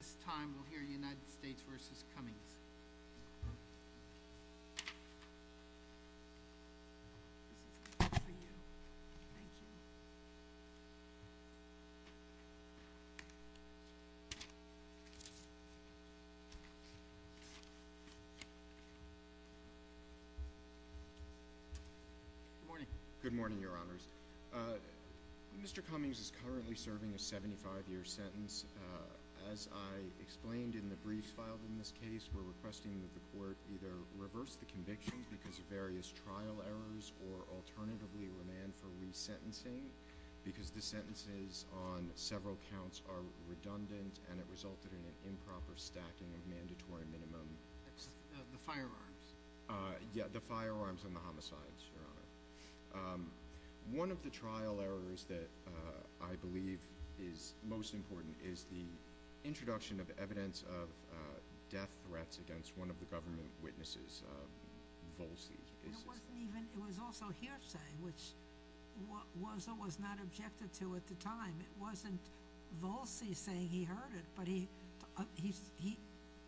This time, we'll hear United States v. Cummings. This is for you. Thank you. Good morning. Good morning, Your Honors. Mr. Cummings is currently serving a 75-year sentence. As I explained in the briefs filed in this case, we're requesting that the Court either reverse the conviction because of various trial errors or alternatively remand for resentencing because the sentences on several counts are redundant and it resulted in an improper stacking of mandatory minimum… The firearms. Yeah, the firearms and the homicides, Your Honor. One of the trial errors that I believe is most important is the introduction of evidence of death threats against one of the government witnesses, Volsey. It was also hearsay, which was or was not objected to at the time. It wasn't Volsey saying he heard it, but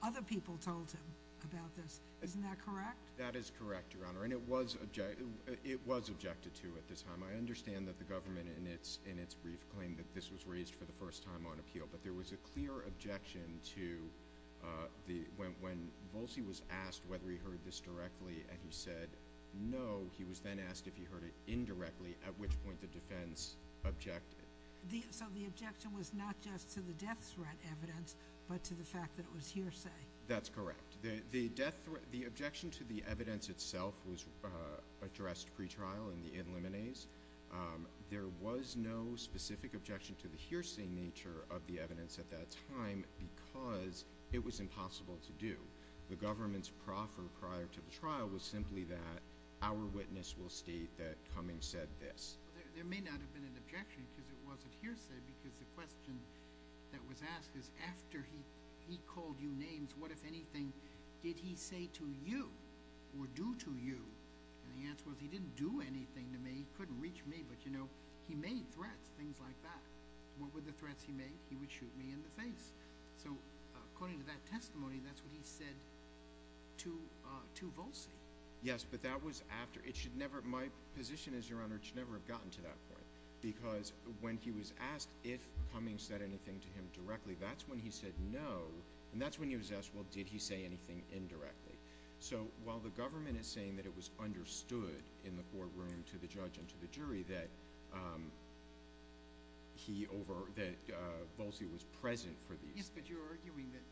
other people told him about this. Isn't that correct? That is correct, Your Honor. And it was objected to at the time. I understand that the government in its brief claimed that this was raised for the first time on appeal, but there was a clear objection to when Volsey was asked whether he heard this directly and he said no, he was then asked if he heard it indirectly, at which point the defense objected. So the objection was not just to the death threat evidence, but to the fact that it was hearsay. That's correct. The objection to the evidence itself was addressed pretrial in the in limines. There was no specific objection to the hearsay nature of the evidence at that time because it was impossible to do. The government's proffer prior to the trial was simply that our witness will state that Cummings said this. There may not have been an objection because it wasn't hearsay because the question that was asked is after he called you names, what, if anything, did he say to you or do to you? And the answer was he didn't do anything to me. He couldn't reach me, but, you know, he made threats, things like that. What were the threats he made? He would shoot me in the face. So according to that testimony, that's what he said to Volsey. Yes, but that was after. My position is, Your Honor, it should never have gotten to that point because when he was asked if Cummings said anything to him directly, that's when he said no, and that's when he was asked, well, did he say anything indirectly? So while the government is saying that it was understood in the courtroom to the judge and to the jury that Volsey was present for these. Yes, but you're arguing that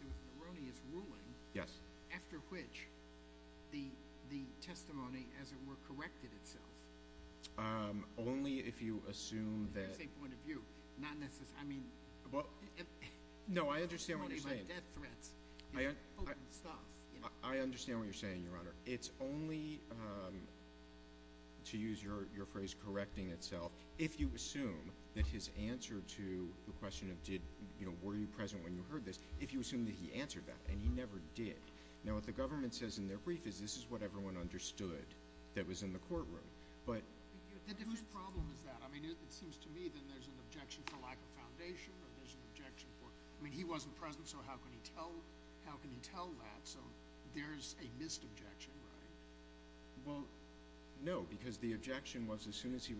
there was an erroneous ruling after which the testimony, as it were, corrected itself. Only if you assume that. From the same point of view. Not necessarily. I mean. No, I understand what you're saying. Death threats. I understand what you're saying, Your Honor. It's only, to use your phrase, correcting itself, if you assume that his answer to the question of did, you know, were you present when you heard this, if you assume that he answered that, and he never did. Now, what the government says in their brief is this is what everyone understood that was in the courtroom. Whose problem is that? I mean, it seems to me that there's an objection for lack of foundation or there's an objection for, I mean, he wasn't present, so how can he tell that? So there's a missed objection, right? Well, no, because the objection was as soon as he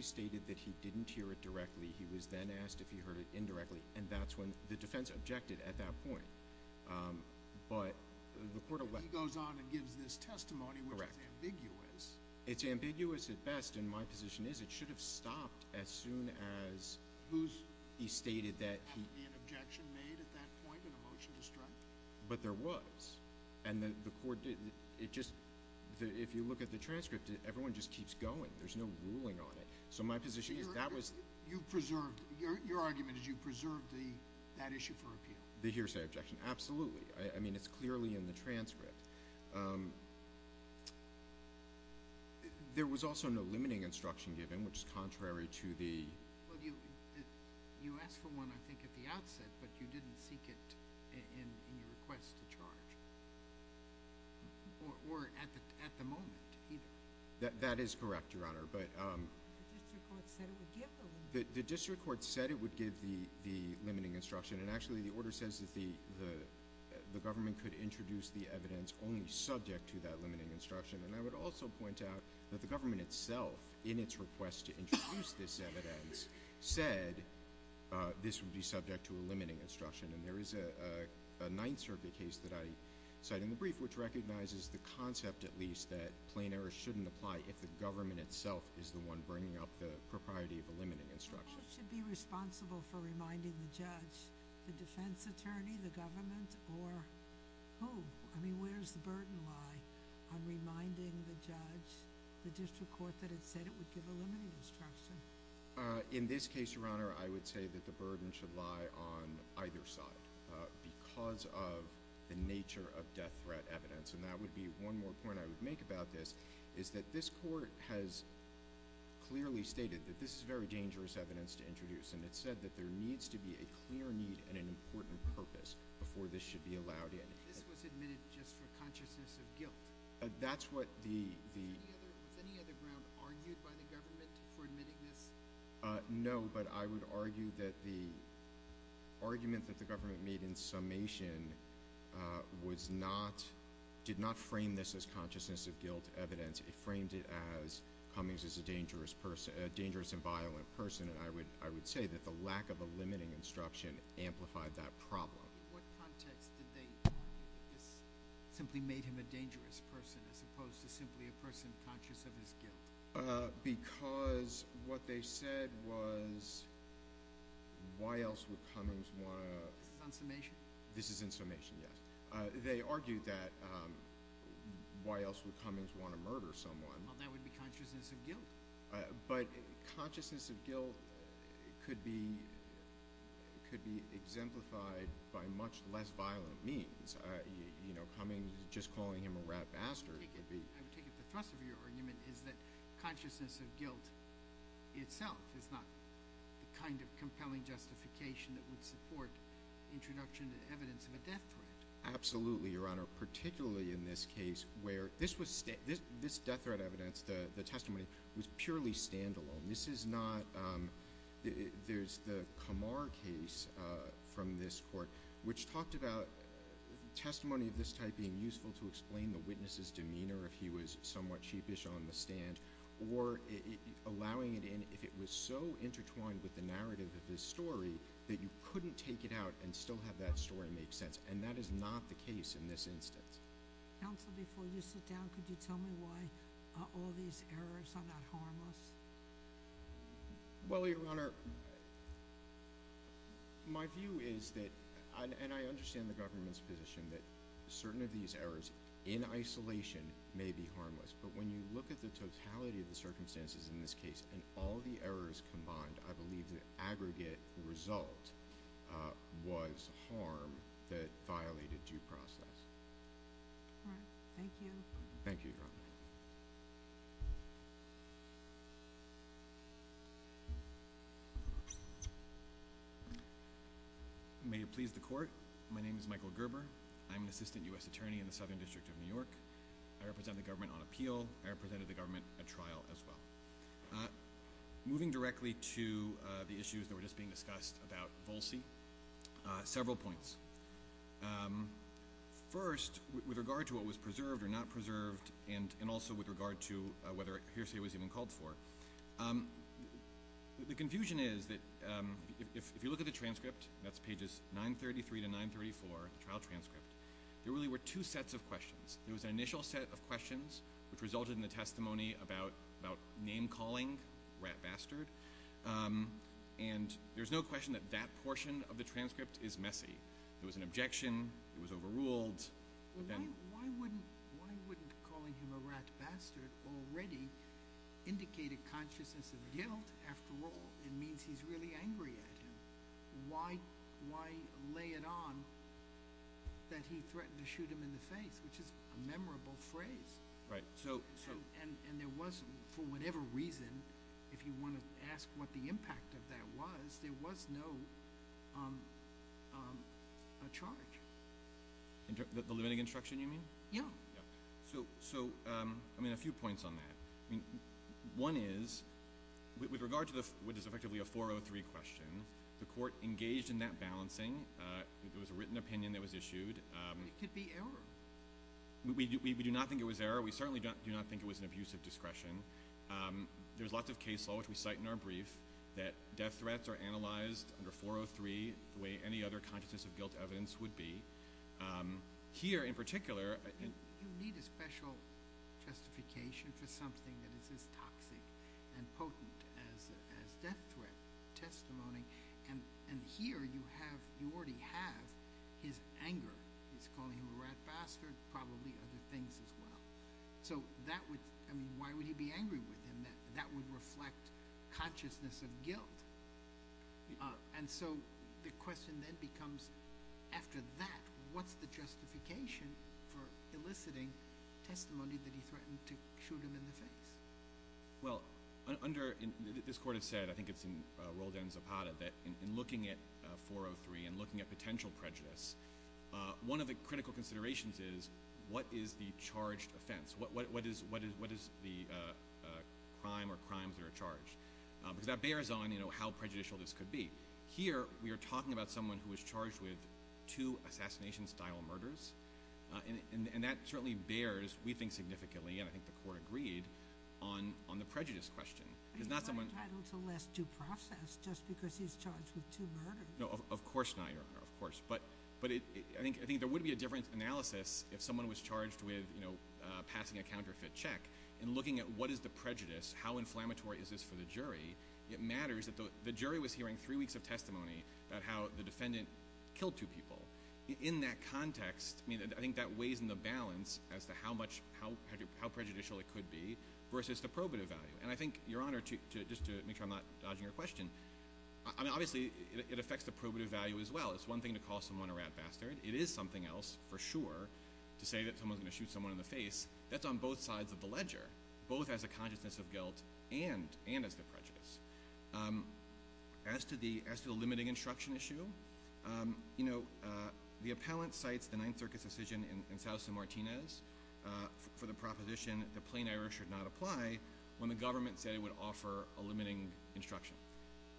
stated that he didn't hear it directly, he was then asked if he heard it indirectly, and that's when the defense objected at that point. He goes on and gives this testimony, which is ambiguous. Correct. It's ambiguous at best, and my position is it should have stopped as soon as he stated that he. There has to be an objection made at that point and a motion to strike. But there was, and the court did. It just, if you look at the transcript, everyone just keeps going. There's no ruling on it. So my position is that was. Your argument is you preserved that issue for appeal. The hearsay objection, absolutely. I mean, it's clearly in the transcript. There was also no limiting instruction given, which is contrary to the. Well, you asked for one, I think, at the outset, but you didn't seek it in your request to charge. Or at the moment either. That is correct, Your Honor, but. The district court said it would give the limiting instruction. And actually, the order says that the government could introduce the evidence only subject to that limiting instruction. And I would also point out that the government itself, in its request to introduce this evidence, said this would be subject to a limiting instruction. And there is a Ninth Circuit case that I cite in the brief which recognizes the concept, at least, that plain error shouldn't apply if the government itself is the one bringing up the propriety of a limiting instruction. Who should be responsible for reminding the judge? The defense attorney, the government, or who? I mean, where does the burden lie on reminding the judge, the district court, that it said it would give a limiting instruction? In this case, Your Honor, I would say that the burden should lie on either side because of the nature of death threat evidence. And that would be one more point I would make about this, is that this court has clearly stated that this is very dangerous evidence to introduce. And it said that there needs to be a clear need and an important purpose before this should be allowed in. This was admitted just for consciousness of guilt? That's what the. Was any other ground argued by the government for admitting this? No, but I would argue that the argument that the government made in summation did not frame this as consciousness of guilt evidence. It framed it as Cummings is a dangerous and violent person. And I would say that the lack of a limiting instruction amplified that problem. In what context did they argue that this simply made him a dangerous person as opposed to simply a person conscious of his guilt? Because what they said was why else would Cummings want to. This is in summation? This is in summation, yes. They argued that why else would Cummings want to murder someone? Well, that would be consciousness of guilt. But consciousness of guilt could be exemplified by much less violent means. You know, Cummings just calling him a rat bastard. I would take it the thrust of your argument is that consciousness of guilt itself is not the kind of compelling justification that would support introduction and evidence of a death threat. Absolutely, Your Honor, particularly in this case where this death threat evidence, the testimony, was purely standalone. This is not, there's the Kamar case from this court, which talked about testimony of this type being useful to explain the witness's demeanor if he was somewhat sheepish on the stand, or allowing it in if it was so intertwined with the narrative of his story that you couldn't take it out and still have that story make sense. And that is not the case in this instance. Counsel, before you sit down, could you tell me why all these errors are not harmless? Well, Your Honor, my view is that, and I understand the government's position that certain of these errors in isolation may be harmless, but when you look at the totality of the circumstances in this case and all the errors combined, I believe the aggregate result was harm that violated due process. All right. Thank you. Thank you, Your Honor. May it please the Court, my name is Michael Gerber. I'm an assistant U.S. attorney in the Southern District of New York. I represent the government on appeal. I represented the government at trial as well. Moving directly to the issues that were just being discussed about Volsey, several points. First, with regard to what was preserved or not preserved, and also with regard to whether hearsay was even called for, the confusion is that if you look at the transcript, that's pages 933 to 934, the trial transcript, there was an initial set of questions which resulted in the testimony about name-calling, rat bastard, and there's no question that that portion of the transcript is messy. There was an objection. It was overruled. Why wouldn't calling him a rat bastard already indicate a consciousness of guilt? After all, it means he's really angry at him. Why lay it on that he threatened to shoot him in the face, which is a memorable phrase. Right. And there was, for whatever reason, if you want to ask what the impact of that was, there was no charge. The limiting instruction, you mean? Yeah. So, I mean, a few points on that. One is, with regard to what is effectively a 403 question, the court engaged in that balancing. There was a written opinion that was issued. But it could be error. We do not think it was error. We certainly do not think it was an abuse of discretion. There's lots of case law, which we cite in our brief, that death threats are analyzed under 403 the way any other consciousness of guilt evidence would be. Here, in particular. You need a special justification for something that is as toxic and potent as death threat testimony. And here, you already have his anger. He's calling him a rat bastard, probably other things as well. So, why would he be angry with him? That would reflect consciousness of guilt. And so, the question then becomes, after that, what's the justification for eliciting testimony that he threatened to shoot him in the face? Well, this court has said, I think it's in Roldan Zapata, that in looking at 403 and looking at potential prejudice, one of the critical considerations is, what is the charged offense? What is the crime or crimes that are charged? Because that bears on how prejudicial this could be. Here, we are talking about someone who was charged with two assassination-style murders. And that certainly bears, we think significantly, and I think the court agreed, on the prejudice question. But he's not entitled to less due process just because he's charged with two murders. No, of course not, Your Honor, of course. But I think there would be a different analysis if someone was charged with passing a counterfeit check. In looking at what is the prejudice, how inflammatory is this for the jury, it matters that the jury was hearing three weeks of testimony about how the defendant killed two people. In that context, I think that weighs in the balance as to how prejudicial it could be versus the probative value. And I think, Your Honor, just to make sure I'm not dodging your question, I mean, obviously, it affects the probative value as well. It's one thing to call someone a rat bastard. It is something else, for sure, to say that someone's going to shoot someone in the face. That's on both sides of the ledger, both as a consciousness of guilt and as the prejudice. As to the limiting instruction issue, you know, the appellant cites the Ninth Circuit's decision in Sousa-Martinez for the proposition that plain error should not apply when the government said it would offer a limiting instruction.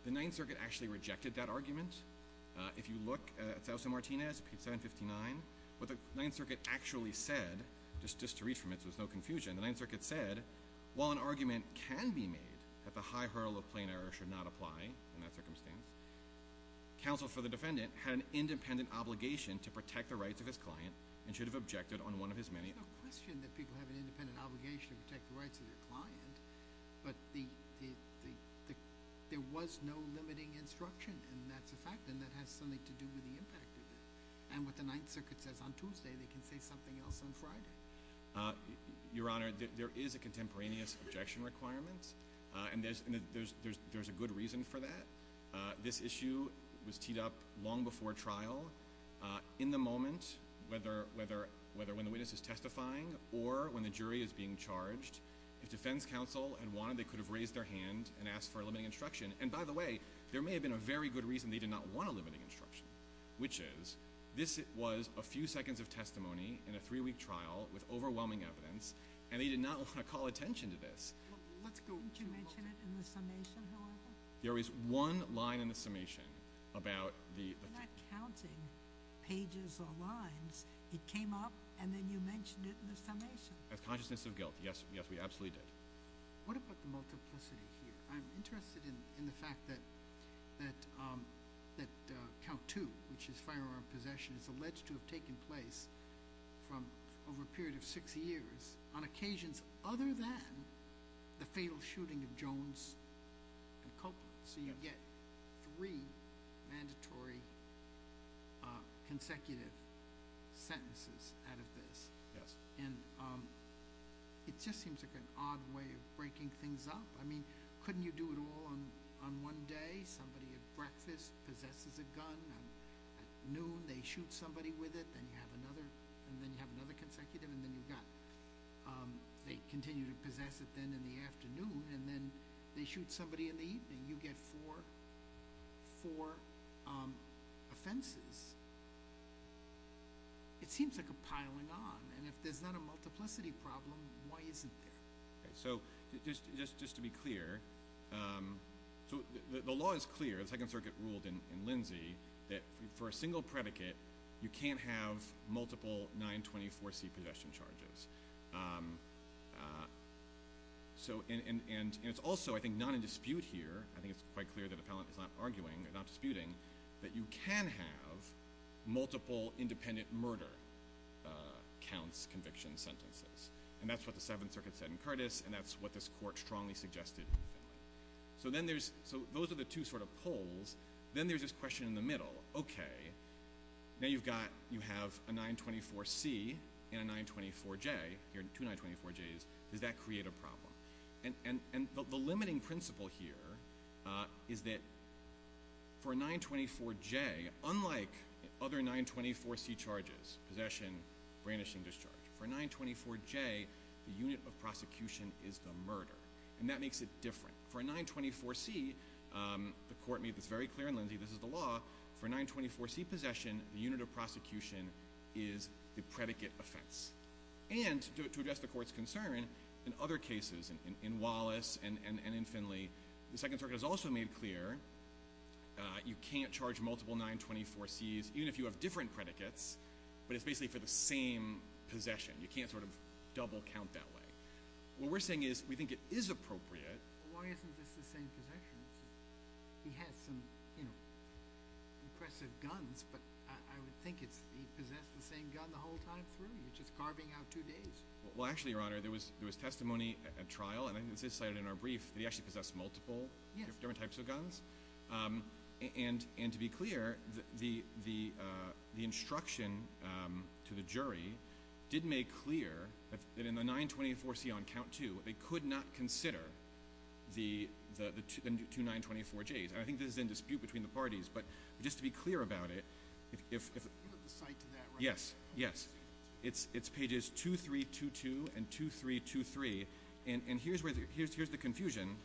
The Ninth Circuit actually rejected that argument. If you look at Sousa-Martinez, page 759, what the Ninth Circuit actually said, just to read from it so there's no confusion, the Ninth Circuit said, while an argument can be made that the high hurdle of plain error should not apply in that circumstance, counsel for the defendant had an independent obligation to protect the rights of his client and should have objected on one of his many— There's no question that people have an independent obligation to protect the rights of their client, but there was no limiting instruction, and that's a fact, and that has something to do with the impact of it. And what the Ninth Circuit says on Tuesday, they can say something else on Friday. Your Honor, there is a contemporaneous objection requirement, and there's a good reason for that. This issue was teed up long before trial. In the moment, whether when the witness is testifying or when the jury is being charged, if defense counsel had wanted, they could have raised their hand and asked for a limiting instruction. And by the way, there may have been a very good reason they did not want a limiting instruction, which is this was a few seconds of testimony in a three-week trial with overwhelming evidence, and they did not want to call attention to this. Didn't you mention it in the summation, Your Honor? There is one line in the summation about the— You're not counting pages or lines. It came up, and then you mentioned it in the summation. Consciousness of guilt. Yes, we absolutely did. What about the multiplicity here? I'm interested in the fact that count two, which is firearm possession, is alleged to have taken place over a period of six years on occasions other than the fatal shooting of Jones and Copeland. So you get three mandatory consecutive sentences out of this. Yes. And it just seems like an odd way of breaking things up. I mean, couldn't you do it all on one day? Somebody at breakfast possesses a gun, and at noon they shoot somebody with it, and then you have another consecutive, and then you've got— they continue to possess it then in the afternoon, and then they shoot somebody in the evening. You get four offenses. It seems like a piling on, and if there's not a multiplicity problem, why is it there? Just to be clear, the law is clear. The Second Circuit ruled in Lindsay that for a single predicate, you can't have multiple 924C possession charges. And it's also, I think, not in dispute here. I think it's quite clear that the felon is not arguing, not disputing, that you can have multiple independent murder counts conviction sentences. And that's what the Seventh Circuit said in Curtis, and that's what this court strongly suggested in Finley. So those are the two sort of poles. Then there's this question in the middle. Okay, now you have a 924C and a 924J, two 924Js. Does that create a problem? And the limiting principle here is that for a 924J, unlike other 924C charges, possession, brandishing, discharge, for a 924J, the unit of prosecution is the murder. And that makes it different. For a 924C, the court made this very clear in Lindsay, this is the law, for a 924C possession, the unit of prosecution is the predicate offense. And to address the court's concern, in other cases, in Wallace and in Finley, the Second Circuit has also made clear you can't charge multiple 924Cs, even if you have different predicates, but it's basically for the same possession. You can't sort of double count that way. What we're saying is we think it is appropriate. Why isn't this the same possession? He has some impressive guns, but I would think he possessed the same gun the whole time through. You're just carving out two days. Well, actually, Your Honor, there was testimony at trial, and I think this is cited in our brief, that he actually possessed multiple different types of guns. And to be clear, the instruction to the jury did make clear that in the 924C on count two, they could not consider the two 924Js. And I think this is in dispute between the parties, but just to be clear about it, Yes, yes. It's pages 2322 and 2323. And here's the confusion.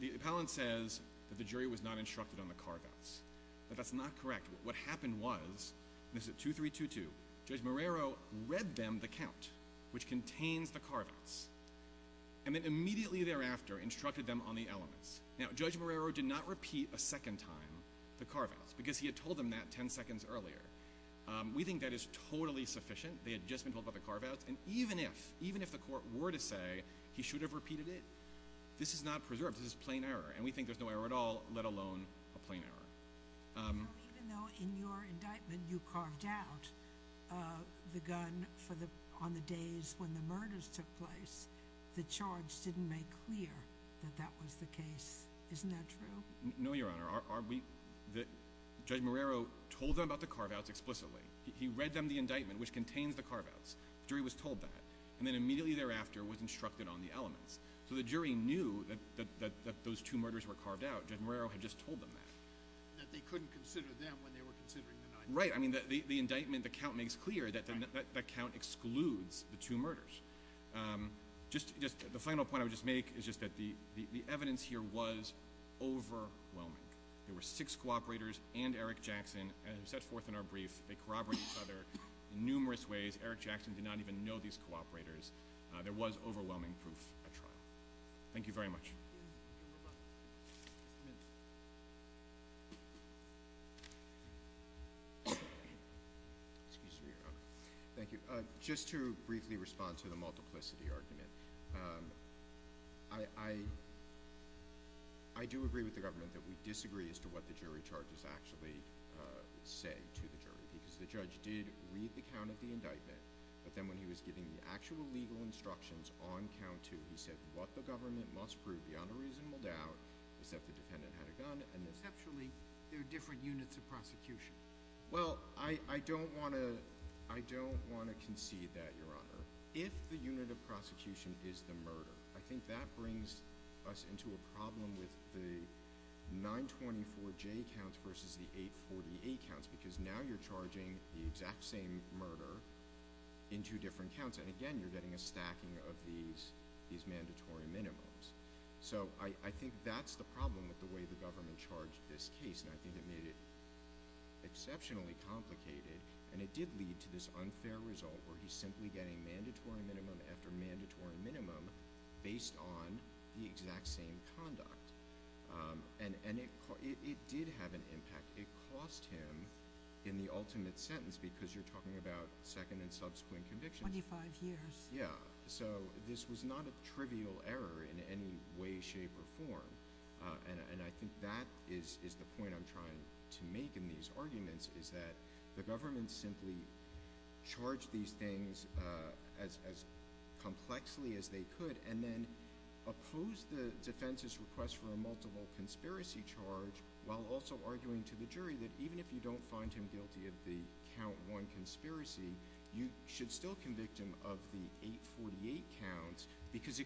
The appellant says that the jury was not instructed on the carve-outs, but that's not correct. What happened was, and this is at 2322, Judge Marrero read them the count, which contains the carve-outs, and then immediately thereafter instructed them on the elements. Now, Judge Marrero did not repeat a second time the carve-outs, because he had told them that 10 seconds earlier. We think that is totally sufficient. They had just been told about the carve-outs, and even if the court were to say he should have repeated it, this is not preserved. This is plain error. And we think there's no error at all, let alone a plain error. So even though in your indictment you carved out the gun on the days when the murders took place, the charge didn't make clear that that was the case. Isn't that true? No, Your Honor. Judge Marrero told them about the carve-outs explicitly. He read them the indictment, which contains the carve-outs. The jury was told that. And then immediately thereafter was instructed on the elements. So the jury knew that those two murders were carved out. Judge Marrero had just told them that. That they couldn't consider them when they were considering the knife. Right. I mean, the indictment, the count makes clear that that count excludes the two murders. The final point I would just make is just that the evidence here was overwhelming. There were six cooperators and Eric Jackson who set forth in our brief. They corroborated each other in numerous ways. Eric Jackson did not even know these cooperators. There was overwhelming proof at trial. Thank you very much. Just a minute. Excuse me, Your Honor. Thank you. Just to briefly respond to the multiplicity argument. I do agree with the government that we disagree as to what the jury charges actually say to the jury. Because the judge did read the count of the indictment. But then when he was giving the actual legal instructions on count two, he said what the government must prove beyond a reasonable doubt is that the defendant had a gun. Conceptually, there are different units of prosecution. Well, I don't want to concede that, Your Honor. If the unit of prosecution is the murder, I think that brings us into a problem with the 924J counts versus the 848 counts. Because now you're charging the exact same murder in two different counts. And, again, you're getting a stacking of these mandatory minimums. So I think that's the problem with the way the government charged this case. And I think it made it exceptionally complicated. And it did lead to this unfair result where he's simply getting mandatory minimum after mandatory minimum based on the exact same conduct. And it did have an impact. It cost him in the ultimate sentence because you're talking about second and subsequent convictions. Twenty-five years. Yeah. So this was not a trivial error in any way, shape, or form. And I think that is the point I'm trying to make in these arguments is that the government simply charged these things as complexly as they could and then opposed the defense's request for a multiple conspiracy charge while also arguing to the jury that even if you don't find him guilty of the count one conspiracy, you should still convict him of the 848 counts because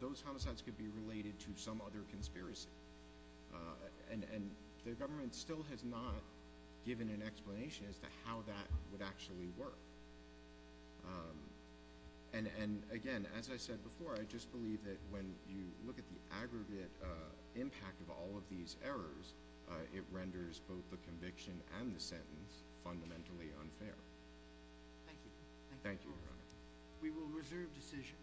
those homicides could be related to some other conspiracy. And the government still has not given an explanation as to how that would actually work. And, again, as I said before, I just believe that when you look at the aggregate impact of all of these errors, it renders both the conviction and the sentence fundamentally unfair. Thank you. Thank you, Your Honor. We will reserve decision.